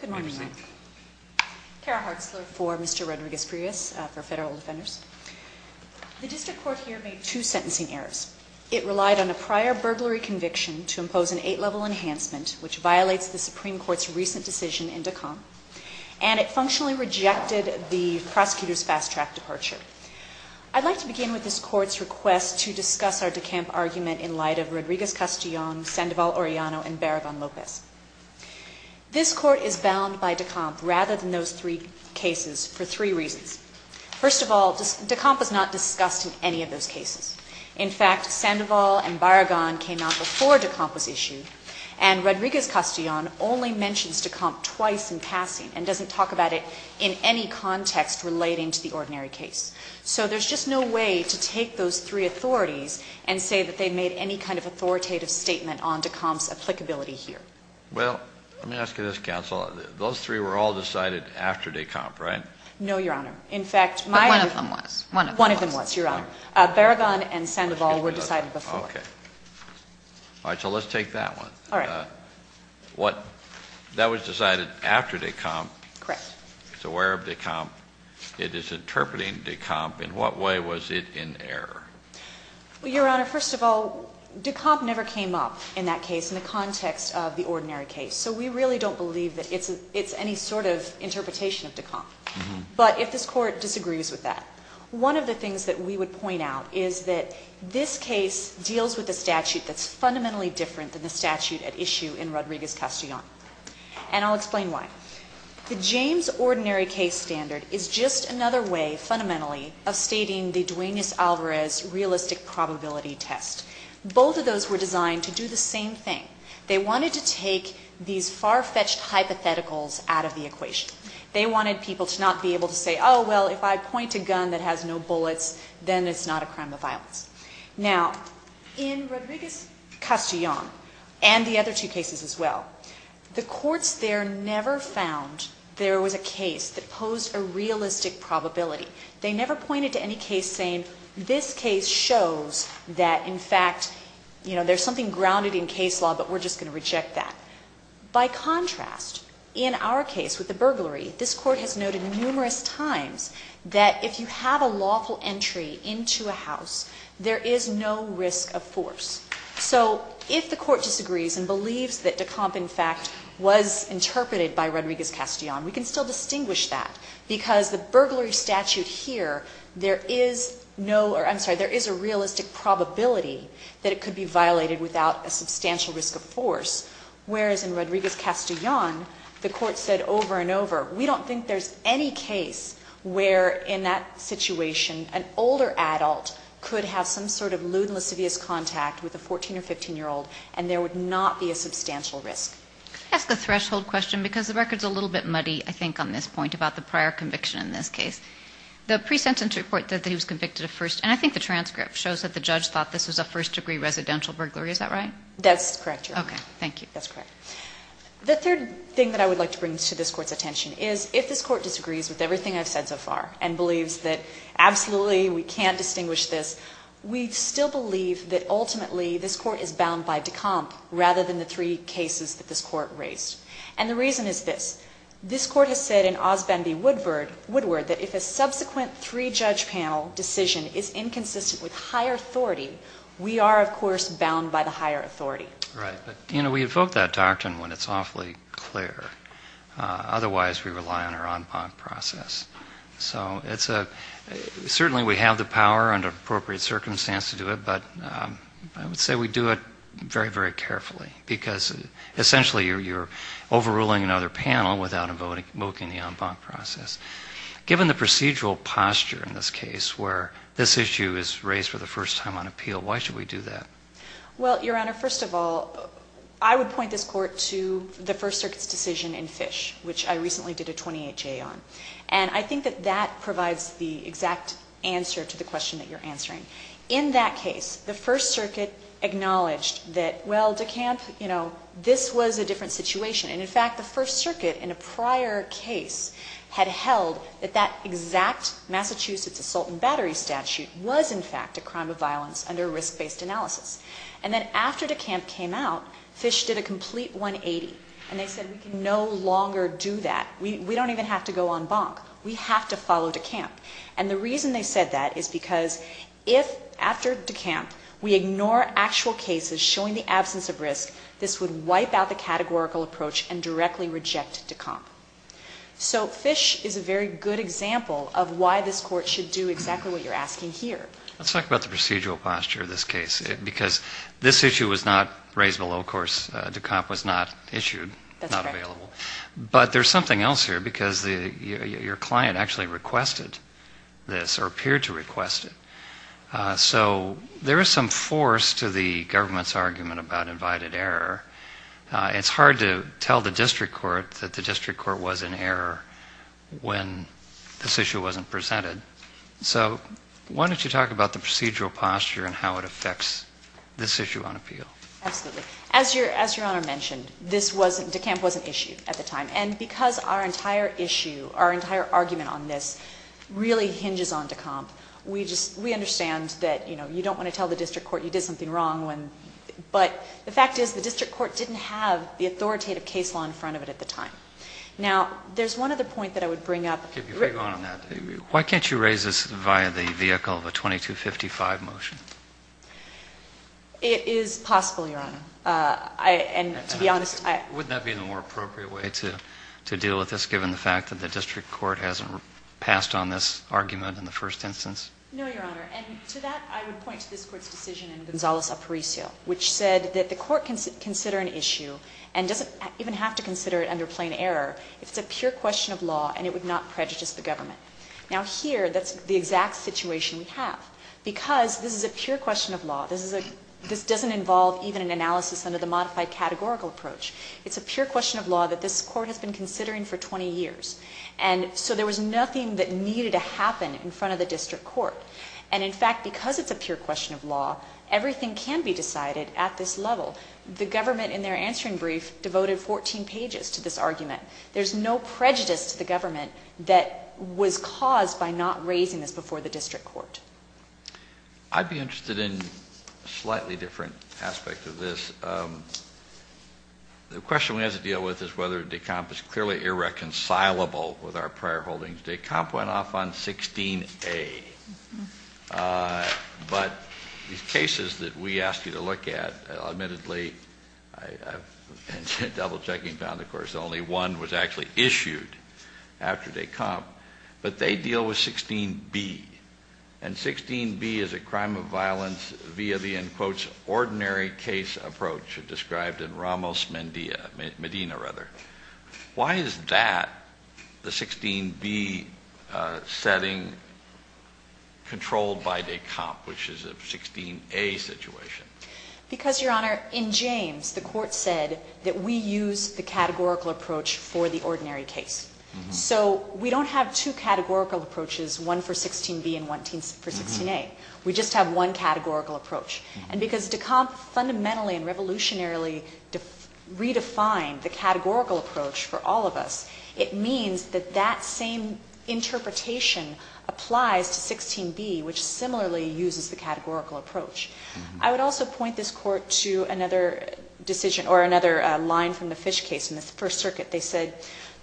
Good morning. Kara Hartzler for Mr. Rodriguez-Frias for Federal Defenders. The district court here made two sentencing errors. It relied on a prior burglary conviction to impose an eight-level enhancement, which violates the Supreme Court's recent decision in DECOM, and it functionally rejected the prosecutor's fast-track departure. I'd like to begin with this Court's request to discuss our DECAMP argument in light of Rodriguez-Castillon, Sandoval-Orellano, and Barragan-Lopez. This Court is bound by DECAMP rather than those three cases for three reasons. First of all, DECAMP was not discussed in any of those cases. In fact, Sandoval and Barragan came out before DECAMP was issued, and Rodriguez-Castillon only mentions DECAMP twice in passing and doesn't talk about it in any context relating to the ordinary case. So there's just no way to take those three authorities and say that they made any kind of authoritative statement on DECAMP's applicability here. Well, let me ask you this, counsel. Those three were all decided after DECAMP, right? No, Your Honor. In fact, my — But one of them was. One of them was. One of them was, Your Honor. Barragan and Sandoval were decided before. Okay. All right. So let's take that one. All right. What — that was decided after DECAMP. Correct. It's aware of DECAMP. It is interpreting DECAMP. In what way was it in error? Well, Your Honor, first of all, DECAMP never came up in that case in the context of the ordinary case, so we really don't believe that it's any sort of interpretation of DECAMP. But if this Court disagrees with that, one of the things that we would point out is that this case deals with a statute that's fundamentally different than the statute at issue in Rodriguez-Castillon. And I'll explain why. The James Ordinary Case Standard is just another way, fundamentally, of stating the Duenas-Alvarez realistic probability test. Both of those were designed to do the same thing. They wanted to take these far-fetched hypotheticals out of the equation. They wanted people to not be able to say, oh, well, if I point a gun that has no bullets, then it's not a crime of violence. Now, in Rodriguez-Castillon, and the other two cases as well, the courts there never found there was a case that posed a realistic probability. They never pointed to any case saying, this case shows that, in fact, you know, there's something grounded in case law, but we're just going to reject that. By contrast, in our case with the burglary, this Court has noted numerous times that if you have a lawful entry into a house, there is no risk of force. So if the Court disagrees and believes that DeCompte, in fact, was interpreted by Rodriguez-Castillon, we can still distinguish that. Because the burglary statute here, there is no, or I'm sorry, there is a realistic probability that it could be violated without a substantial risk of force. Whereas in Rodriguez-Castillon, the Court said over and over, we don't think there's any case where, in that situation, an older adult could have some sort of lewd and lascivious contact with a 14- or 15-year-old, and there would not be a substantial risk. That's the threshold question, because the record's a little bit muddy, I think, on this point about the prior conviction in this case. The pre-sentence report that he was convicted of first, and I think the transcript shows that the judge thought this was a first-degree residential burglary. Is that right? That's correct, Your Honor. Okay. Thank you. That's correct. The third thing that I would like to bring to this Court's attention is, if this Court disagrees with everything I've said so far, and believes that, absolutely, we can't distinguish this, we still believe that, ultimately, this Court is bound by DeCompte, rather than the three cases that this Court raised. And the reason is this. This Court has said in Osbendie-Woodward that if a subsequent three-judge panel decision is inconsistent with higher authority, we are, of course, bound by the higher authority. Right. But, you know, we invoke that doctrine when it's awfully clear. Otherwise, we rely on our en banc process. So it's a – certainly we have the power under appropriate circumstance to do it, but I would say we do it very, very carefully, because essentially you're overruling another panel without invoking the en banc process. Given the procedural posture in this case, where this issue is raised for the first time on appeal, why should we do that? Well, Your Honor, first of all, I would point this Court to the First Circuit's decision in Fish, which I recently did a 28-J on. And I think that that provides the exact answer to the question that you're answering. In that case, the First Circuit acknowledged that, well, DeCompte, you know, this was a different situation. And, in fact, the First Circuit in a prior case had held that that exact Massachusetts assault and battery statute was, in fact, a crime of violence under a risk-based analysis. And then after DeCompte came out, Fish did a complete 180, and they said we can no longer do that. We don't even have to go en banc. We have to follow DeCompte. And the reason they said that is because if, after DeCompte, we ignore actual cases showing the absence of risk, this would wipe out the categorical approach and directly reject DeCompte. So Fish is a very good example of why this Court should do exactly what you're asking here. Let's talk about the procedural posture of this case, because this issue was not raised below. Of course, DeCompte was not issued, not available. That's correct. But there's something else here, because your client actually requested this, or appeared to request it. So there is some force to the government's argument about invited error. It's hard to tell the district court that the district court was in error when this issue wasn't presented. So why don't you talk about the procedural posture and how it affects this issue on appeal? Absolutely. As Your Honor mentioned, DeCompte wasn't issued at the time. And because our entire issue, our entire argument on this really hinges on DeCompte, we understand that you don't want to tell the district court you did something wrong. But the fact is the district court didn't have the authoritative case law in front of it at the time. Now, there's one other point that I would bring up. Okay. Before you go on on that, why can't you raise this via the vehicle of a 2255 motion? It is possible, Your Honor. And to be honest, I — Wouldn't that be the more appropriate way to deal with this, given the fact that the district court hasn't passed on this argument in the first instance? No, Your Honor. And to that, I would point to this Court's decision in Gonzales-Aparicio, which said that the court can consider an issue, and doesn't even have to consider it under plain error, if it's a pure question of law and it would not prejudice the government. Now, here, that's the exact situation we have. Because this is a pure question of law. This doesn't involve even an analysis under the modified categorical approach. It's a pure question of law that this Court has been considering for 20 years. And so there was nothing that needed to happen in front of the district court. And in fact, because it's a pure question of law, everything can be decided at this level. The government, in their answering brief, devoted 14 pages to this argument. There's no prejudice to the government that was caused by not raising this issue before the district court. I'd be interested in a slightly different aspect of this. The question we have to deal with is whether DECOMP is clearly irreconcilable with our prior holdings. DECOMP went off on 16A. But these cases that we asked you to look at, admittedly, double-checking found, of course, only one was actually issued after DECOMP. But they deal with 16B. And 16B is a crime of violence via the, in quotes, ordinary case approach described in Ramos Medina. Why is that, the 16B setting, controlled by DECOMP, which is a 16A situation? Because, Your Honor, in James, the Court said that we use the categorical approach for the ordinary case. So we don't have two categorical approaches, one for 16B and one for 16A. We just have one categorical approach. And because DECOMP fundamentally and revolutionarily redefined the categorical approach for all of us, it means that that same interpretation applies to 16B, which similarly uses the categorical approach. I would also point this Court to another decision or another line from the Fish case in the First Circuit. They said,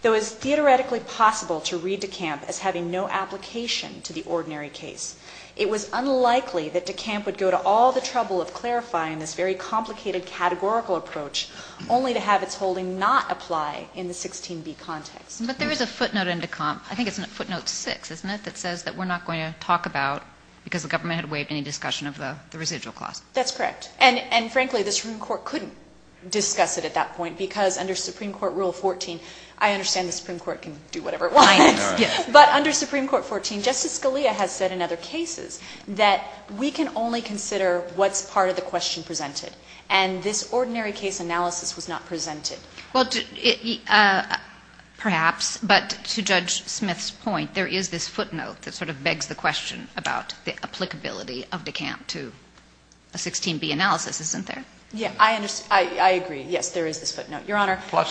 though it's theoretically possible to read DECOMP as having no application to the ordinary case, it was unlikely that DECOMP would go to all the trouble of clarifying this very complicated categorical approach, only to have its holding not apply in the 16B context. But there is a footnote in DECOMP. I think it's footnote 6, isn't it, that says that we're not going to talk about because the government had waived any discussion of the residual cost. That's correct. And frankly, the Supreme Court couldn't discuss it at that point because under Supreme Court Rule 14, I understand the Supreme Court can do whatever it wants. Yes. But under Supreme Court 14, Justice Scalia has said in other cases that we can only consider what's part of the question presented. And this ordinary case analysis was not presented. Well, perhaps. But to Judge Smith's point, there is this footnote that sort of begs the question about the applicability of DECOMP to a 16B analysis, isn't there? Yes. I agree. Yes, there is this footnote. Your Honor. Plus,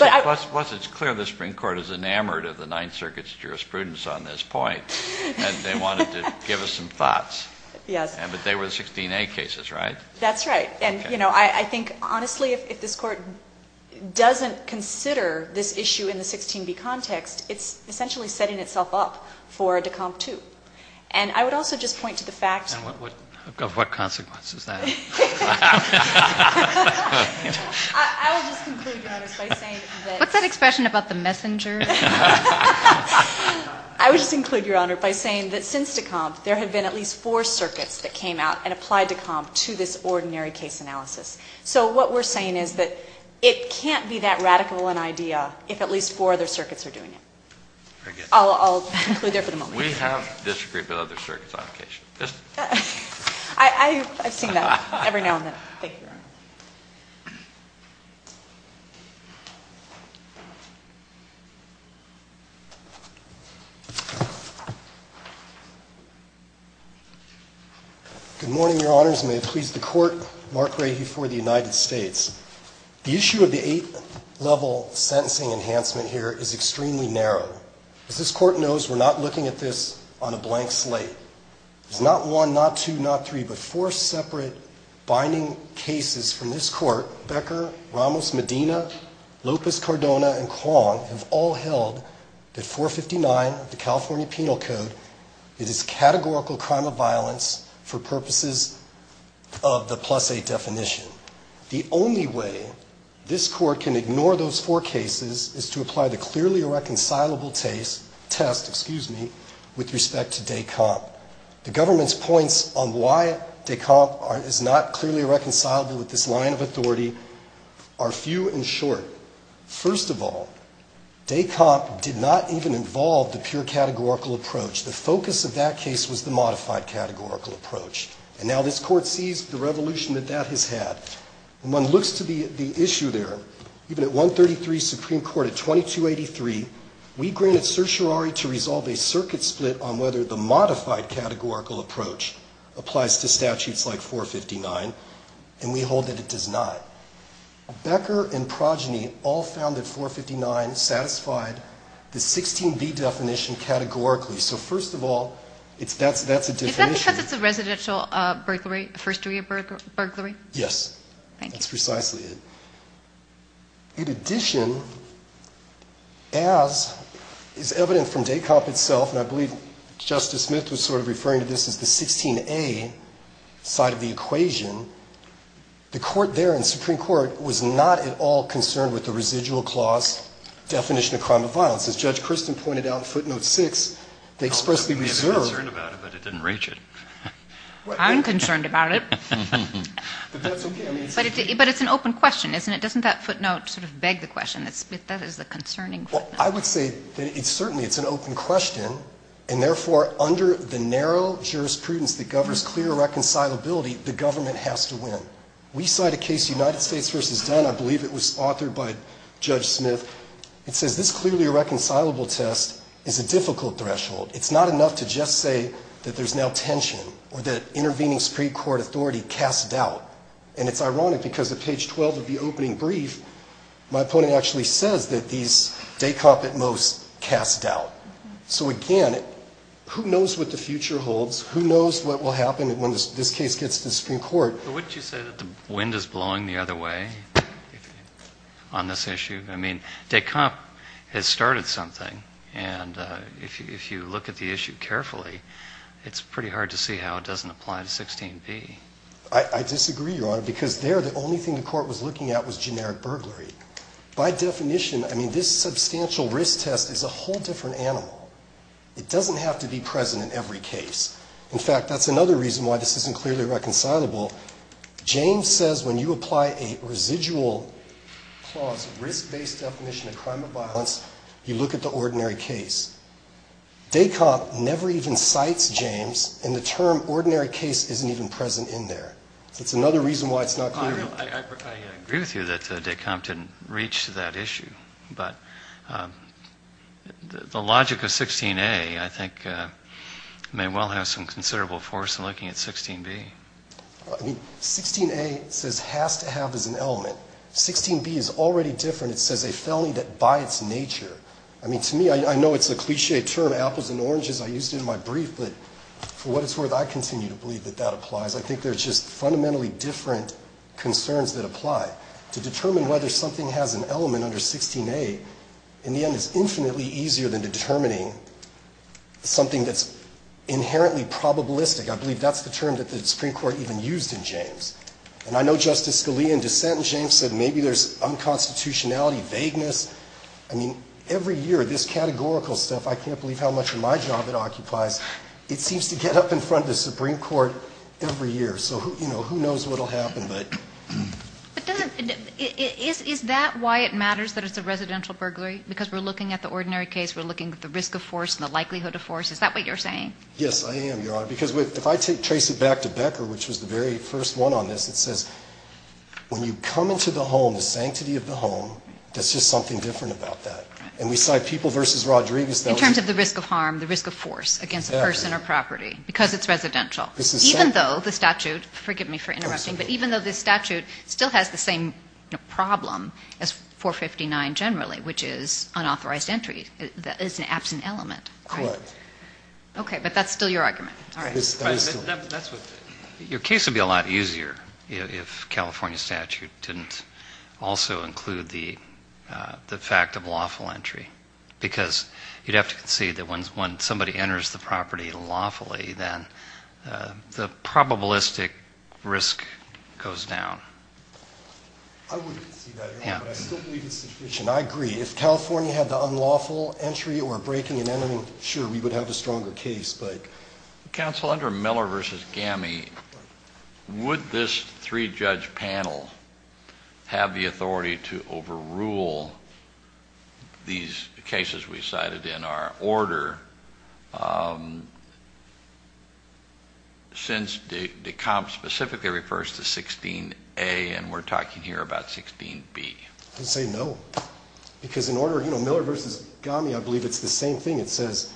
it's clear the Supreme Court is enamored of the Ninth Circuit's jurisprudence on this point. And they wanted to give us some thoughts. Yes. But they were 16A cases, right? That's right. And, you know, I think, honestly, if this Court doesn't consider this issue in the 16B context, it's essentially setting itself up for DECOMP 2. And I would also just point to the fact of what consequence is that? I will just conclude, Your Honor, by saying that... What's that expression about the messengers? I would just conclude, Your Honor, by saying that since DECOMP, there have been at least four circuits that came out and applied DECOMP to this ordinary case analysis. So what we're saying is that it can't be that radical an idea if at least four other circuits are doing it. I'll conclude there for the moment. I've seen that every now and then. Thank you, Your Honor. Good morning, Your Honors. And may it please the Court, Mark Rahe for the United States. The issue of the eight-level sentencing enhancement here is extremely narrow. As this Court knows, we're not looking at this on a blank slate. There's not one, not two, not three, but four separate binding cases from this Court. Becker, Ramos, Medina, Lopez, Cardona, and Kwong have all held that 459 of the California Penal Code is a categorical crime of violence for purposes of the plus-eight definition. The only way this Court can ignore those four cases is to apply the clearly reconcilable test with respect to DECOMP. The government's points on why DECOMP is not clearly reconcilable with this line of authority are few and short. First of all, DECOMP did not even involve the pure categorical approach. The focus of that case was the modified categorical approach. And now this Court sees the revolution that that has had. When one looks to the issue there, even at 133 Supreme Court, at 2283, we granted certiorari to resolve a circuit split on whether the modified categorical approach applies to statutes like 459, and we hold that it does not. Becker and Progeny all found that 459 satisfied the 16B definition categorically. So first of all, that's a different issue. Is that because it's a residential burglary, a first-degree burglary? Yes. Thank you. That's precisely it. In addition, as is evident from DECOMP itself, and I believe Justice Smith was sort of referring to this as the 16A side of the equation, the Court there in Supreme Court was not at all concerned with the residual clause definition of crime of violence. As Judge Kirsten pointed out in footnote 6, they expressly reserved the concern about it, but it didn't reach it. I'm concerned about it. But that's okay. But it's an open question, isn't it? Doesn't that footnote sort of beg the question? That is a concerning footnote. Well, I would say that certainly it's an open question, and therefore under the narrow jurisprudence that governs clear reconcilability, the government has to win. We cite a case, United States v. Dunn. I believe it was authored by Judge Smith. It says this clearly irreconcilable test is a difficult threshold. It's not enough to just say that there's now tension or that intervening Supreme Court authority casts doubt. And it's ironic, because at page 12 of the opening brief, my opponent actually says that these, DECOMP at most, casts doubt. So again, who knows what the future holds? Who knows what will happen when this case gets to the Supreme Court? But wouldn't you say that the wind is blowing the other way on this issue? I mean, DECOMP has started something. And if you look at the issue carefully, it's pretty hard to see how it doesn't apply to 16B. I disagree, Your Honor, because there the only thing the court was looking at was generic burglary. By definition, I mean, this substantial risk test is a whole different animal. It doesn't have to be present in every case. In fact, that's another reason why this isn't clearly reconcilable. James says when you apply a residual clause, risk-based definition of crime of ordinary case. DECOMP never even cites James. And the term ordinary case isn't even present in there. So it's another reason why it's not clear. I agree with you that DECOMP didn't reach that issue. But the logic of 16A, I think, may well have some considerable force in looking at 16B. I mean, 16A says has to have as an element. 16B is already different. It says a felony by its nature. I mean, to me, I know it's a cliché term, apples and oranges. I used it in my brief. But for what it's worth, I continue to believe that that applies. I think there's just fundamentally different concerns that apply. To determine whether something has an element under 16A, in the end, is infinitely easier than determining something that's inherently probabilistic. I believe that's the term that the Supreme Court even used in James. And I know Justice Scalia in dissent in James said maybe there's unconstitutionality, vagueness. I mean, every year, this categorical stuff, I can't believe how much of my job it occupies. It seems to get up in front of the Supreme Court every year. So, you know, who knows what will happen. But... But is that why it matters that it's a residential burglary? Because we're looking at the ordinary case. We're looking at the risk of force and the likelihood of force. Is that what you're saying? Yes, I am, Your Honor. Because if I trace it back to Becker, which was the very first one on this, it says, when you come into the home, the sanctity of the home, there's just something different about that. And we saw people versus Rodriguez that were... In terms of the risk of harm, the risk of force against a person or property because it's residential. This is... Even though the statute, forgive me for interrupting, but even though the statute still has the same problem as 459 generally, which is unauthorized entry, that is an absent element. Correct. Okay. But that's still your argument. All right. That's what... Your case would be a lot easier if California statute didn't also include the fact of lawful entry. Because you'd have to concede that when somebody enters the property lawfully, then the probabilistic risk goes down. I wouldn't concede that, Your Honor, but I still believe the situation. I agree. If California had the unlawful entry or breaking and entering, sure, we would have a stronger case. But... Counsel, under Miller versus Gamme, would this three-judge panel have the same problem? These cases we cited in our order, since the comp specifically refers to 16A and we're talking here about 16B. I'd say no. Because in order... You know, Miller versus Gamme, I believe it's the same thing. It says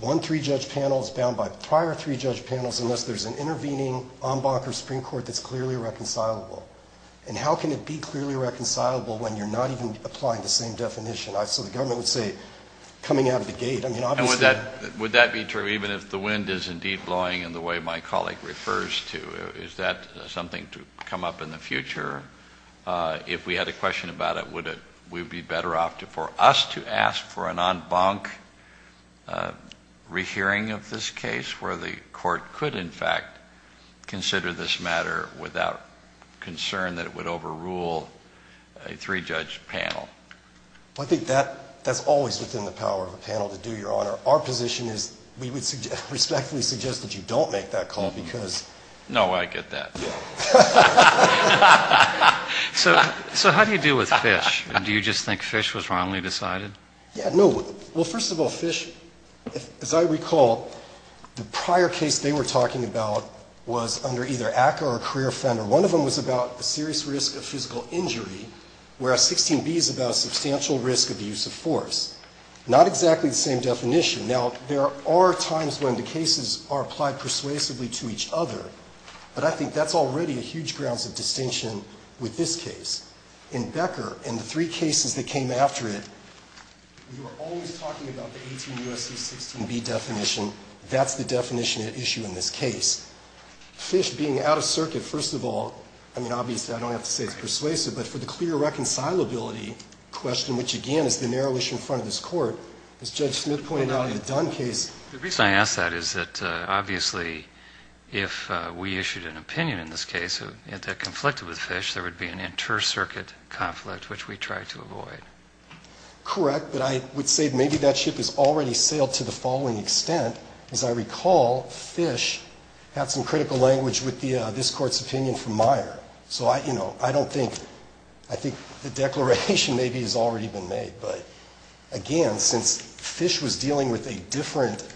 one three-judge panel is bound by prior three-judge panels unless there's an intervening en banc or Supreme Court that's clearly reconcilable. And how can it be clearly reconcilable when you're not even applying the same definition? So the government would say coming out of the gate. I mean, obviously... And would that be true even if the wind is indeed blowing in the way my colleague refers to? Is that something to come up in the future? If we had a question about it, would we be better off for us to ask for an en banc rehearing of this case where the court could, in fact, consider this a concern that it would overrule a three-judge panel? Well, I think that's always within the power of a panel to do, Your Honor. Our position is we would respectfully suggest that you don't make that call because... No, I get that. Yeah. So how do you deal with Fish? Do you just think Fish was wrongly decided? Yeah, no. Well, first of all, Fish, as I recall, the prior case they were talking about was under either ACCA or career offender. One of them was about the serious risk of physical injury, whereas 16B is about a substantial risk of the use of force. Not exactly the same definition. Now, there are times when the cases are applied persuasively to each other, but I think that's already a huge grounds of distinction with this case. In Becker, in the three cases that came after it, we were always talking about the 18 U.S.C. 16B definition. That's the definition at issue in this case. Fish being out of circuit, first of all, I mean, obviously I don't have to say it's persuasive, but for the clear reconcilability question, which, again, is the narrow issue in front of this Court, as Judge Smith pointed out in the Dunn case... The reason I ask that is that, obviously, if we issued an opinion in this case that conflicted with Fish, there would be an inter-circuit conflict, which we tried to avoid. Correct, but I would say maybe that ship has already sailed to the following extent. As I recall, Fish had some critical language with this Court's opinion from Meyer. So, you know, I don't think... I think the declaration maybe has already been made. But, again, since Fish was dealing with a different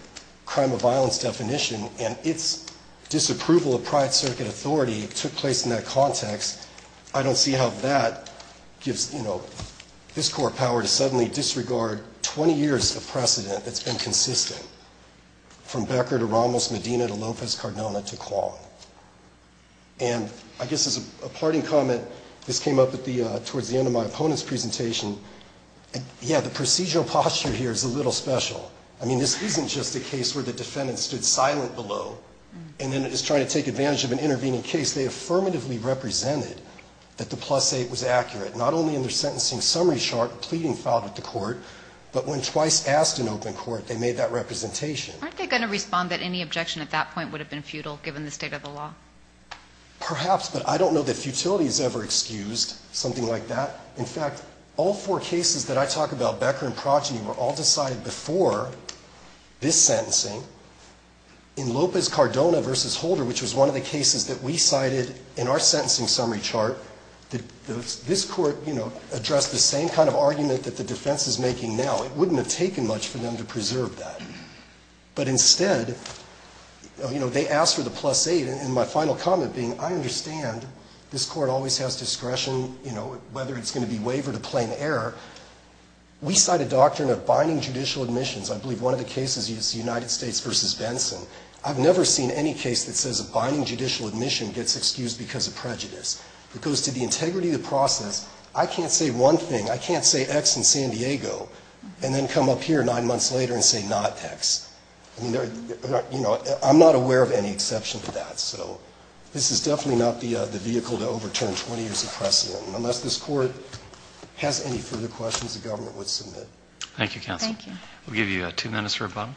crime of violence definition and its disapproval of private circuit authority took place in that context, I don't see how that gives this Court power to suddenly disregard 20 years of precedent that's been consistent from Becker to Ramos, Medina to Lopez Cardona to Kwan. And I guess as a parting comment, this came up towards the end of my opponent's presentation. Yeah, the procedural posture here is a little special. I mean, this isn't just a case where the defendant stood silent below and then is trying to take advantage of an intervening case. They affirmatively represented that the plus 8 was accurate, not only in their they made that representation. Aren't they going to respond that any objection at that point would have been futile given the state of the law? Perhaps, but I don't know that futility is ever excused, something like that. In fact, all four cases that I talk about, Becker and Progeny, were all decided before this sentencing. In Lopez Cardona v. Holder, which was one of the cases that we cited in our sentencing summary chart, this Court, you know, addressed the same kind of argument that the defense is making now. It wouldn't have taken much for them to preserve that. But instead, you know, they asked for the plus 8. And my final comment being, I understand this Court always has discretion, you know, whether it's going to be wavered or plain error. We cite a doctrine of binding judicial admissions. I believe one of the cases is United States v. Benson. I've never seen any case that says a binding judicial admission gets excused because of prejudice. It goes to the integrity of the process. I can't say one thing. I can't say X in San Diego and then come up here nine months later and say not X. You know, I'm not aware of any exception to that. So this is definitely not the vehicle to overturn 20 years of precedent. Unless this Court has any further questions, the government would submit. Thank you, counsel. Thank you. We'll give you two minutes for a button.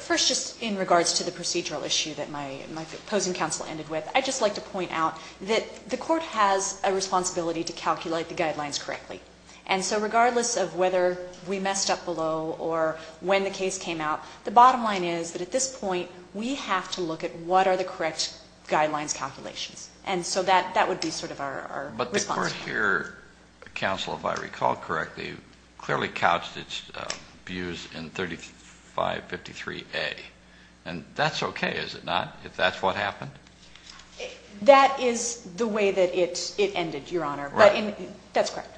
First, just in regards to the procedural issue that my opposing counsel ended with, I'd just like to point out that the Court has a responsibility to calculate the guidelines correctly. And so regardless of whether we messed up below or when the case came out, the bottom line is that at this point, we have to look at what are the correct guidelines calculations. And so that would be sort of our response. Your counsel, if I recall correctly, clearly couched its views in 3553A. And that's okay, is it not, if that's what happened? That is the way that it ended, Your Honor. Right. That's correct.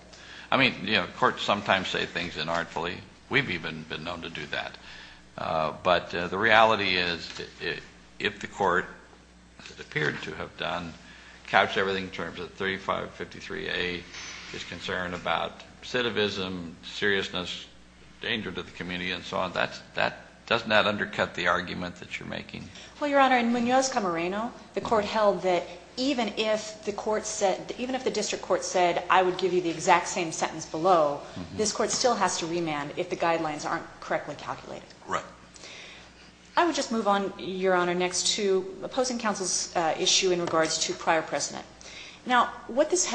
I mean, you know, courts sometimes say things inartfully. We've even been known to do that. But the reality is if the Court, as it appeared to have done, couched everything in terms of 3553A, its concern about recidivism, seriousness, danger to the community, and so on, doesn't that undercut the argument that you're making? Well, Your Honor, in Munoz-Camarena, the Court held that even if the District Court said, I would give you the exact same sentence below, this Court still has to remand if the guidelines aren't correctly calculated. Right. I would just move on, Your Honor, next to opposing counsel's issue in regards to prior precedent. Now, what this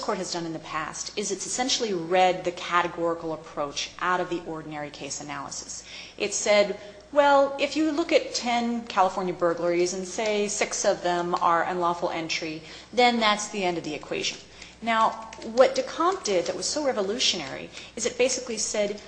Court has done in the past is it's essentially read the categorical approach out of the ordinary case analysis. It said, well, if you look at ten California burglaries and say six of them are unlawful entry, then that's the end of the equation. Now, what de Compte did that was so revolutionary is it basically said,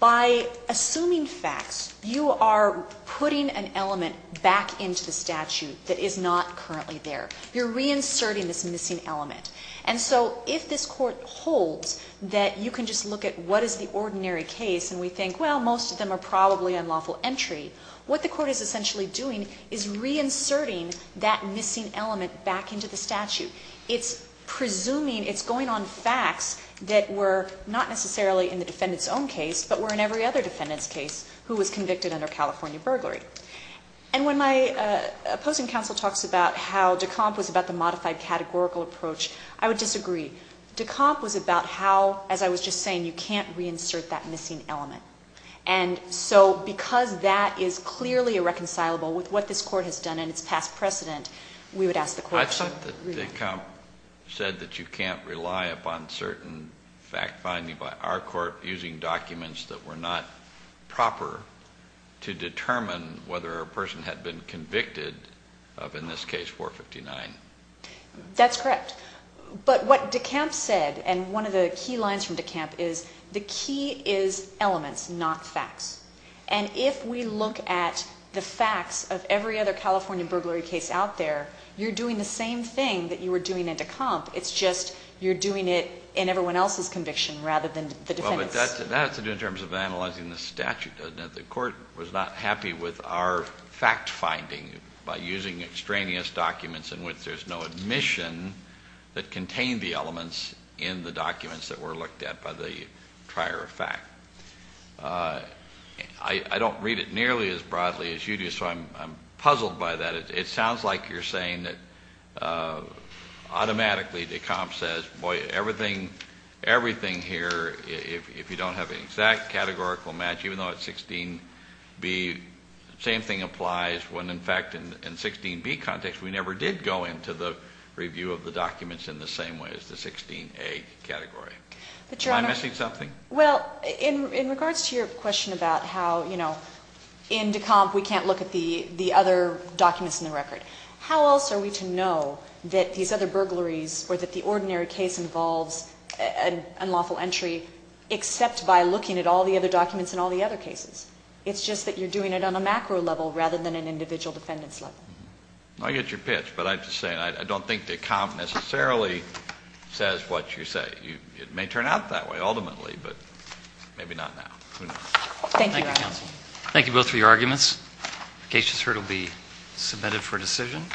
by assuming facts, you are putting an element back into the statute that is not currently there. You're reinserting this missing element. And so if this Court holds that you can just look at what is the ordinary case and we think, well, most of them are probably unlawful entry, what the Court is essentially doing is reinserting that missing element back into the statute. It's presuming, it's going on facts that were not necessarily in the defendant's own case, but were in every other defendant's case who was convicted under California burglary. And when my opposing counsel talks about how de Compte was about the modified categorical approach, I would disagree. De Compte was about how, as I was just saying, you can't reinsert that missing element. And so because that is clearly irreconcilable with what this Court has done in its past precedent, we would ask the question. I thought that de Compte said that you can't rely upon certain fact finding by our Court using documents that were not proper to determine whether a person had been convicted of, in this case, 459. That's correct. But what de Compte said, and one of the key lines from de Compte is the key is elements, not facts. And if we look at the facts of every other California burglary case out there, you're doing the same thing that you were doing in de Compte. It's just you're doing it in everyone else's conviction rather than the defendant's. Well, but that's in terms of analyzing the statute, doesn't it? The Court was not happy with our fact finding by using extraneous documents in which there's no admission that contain the elements in the documents that were looked at by the prior fact. I don't read it nearly as broadly as you do, so I'm puzzled by that. It sounds like you're saying that automatically de Compte says, boy, everything here, if you don't have an exact categorical match, even though it's 16B, same thing applies when, in fact, in 16B context, we never did go into the review of the documents in the same way as the 16A category. Am I missing something? Well, in regards to your question about how, you know, in de Compte we can't look at the other documents in the record. How else are we to know that these other burglaries or that the ordinary case involves an unlawful entry except by looking at all the other documents in all the other cases? It's just that you're doing it on a macro level rather than an individual defendant's level. I get your pitch, but I have to say I don't think de Compte necessarily says what you say. It may turn out that way ultimately, but maybe not now. Thank you. Thank you, counsel. Thank you both for your arguments. The case has heard will be submitted for decision.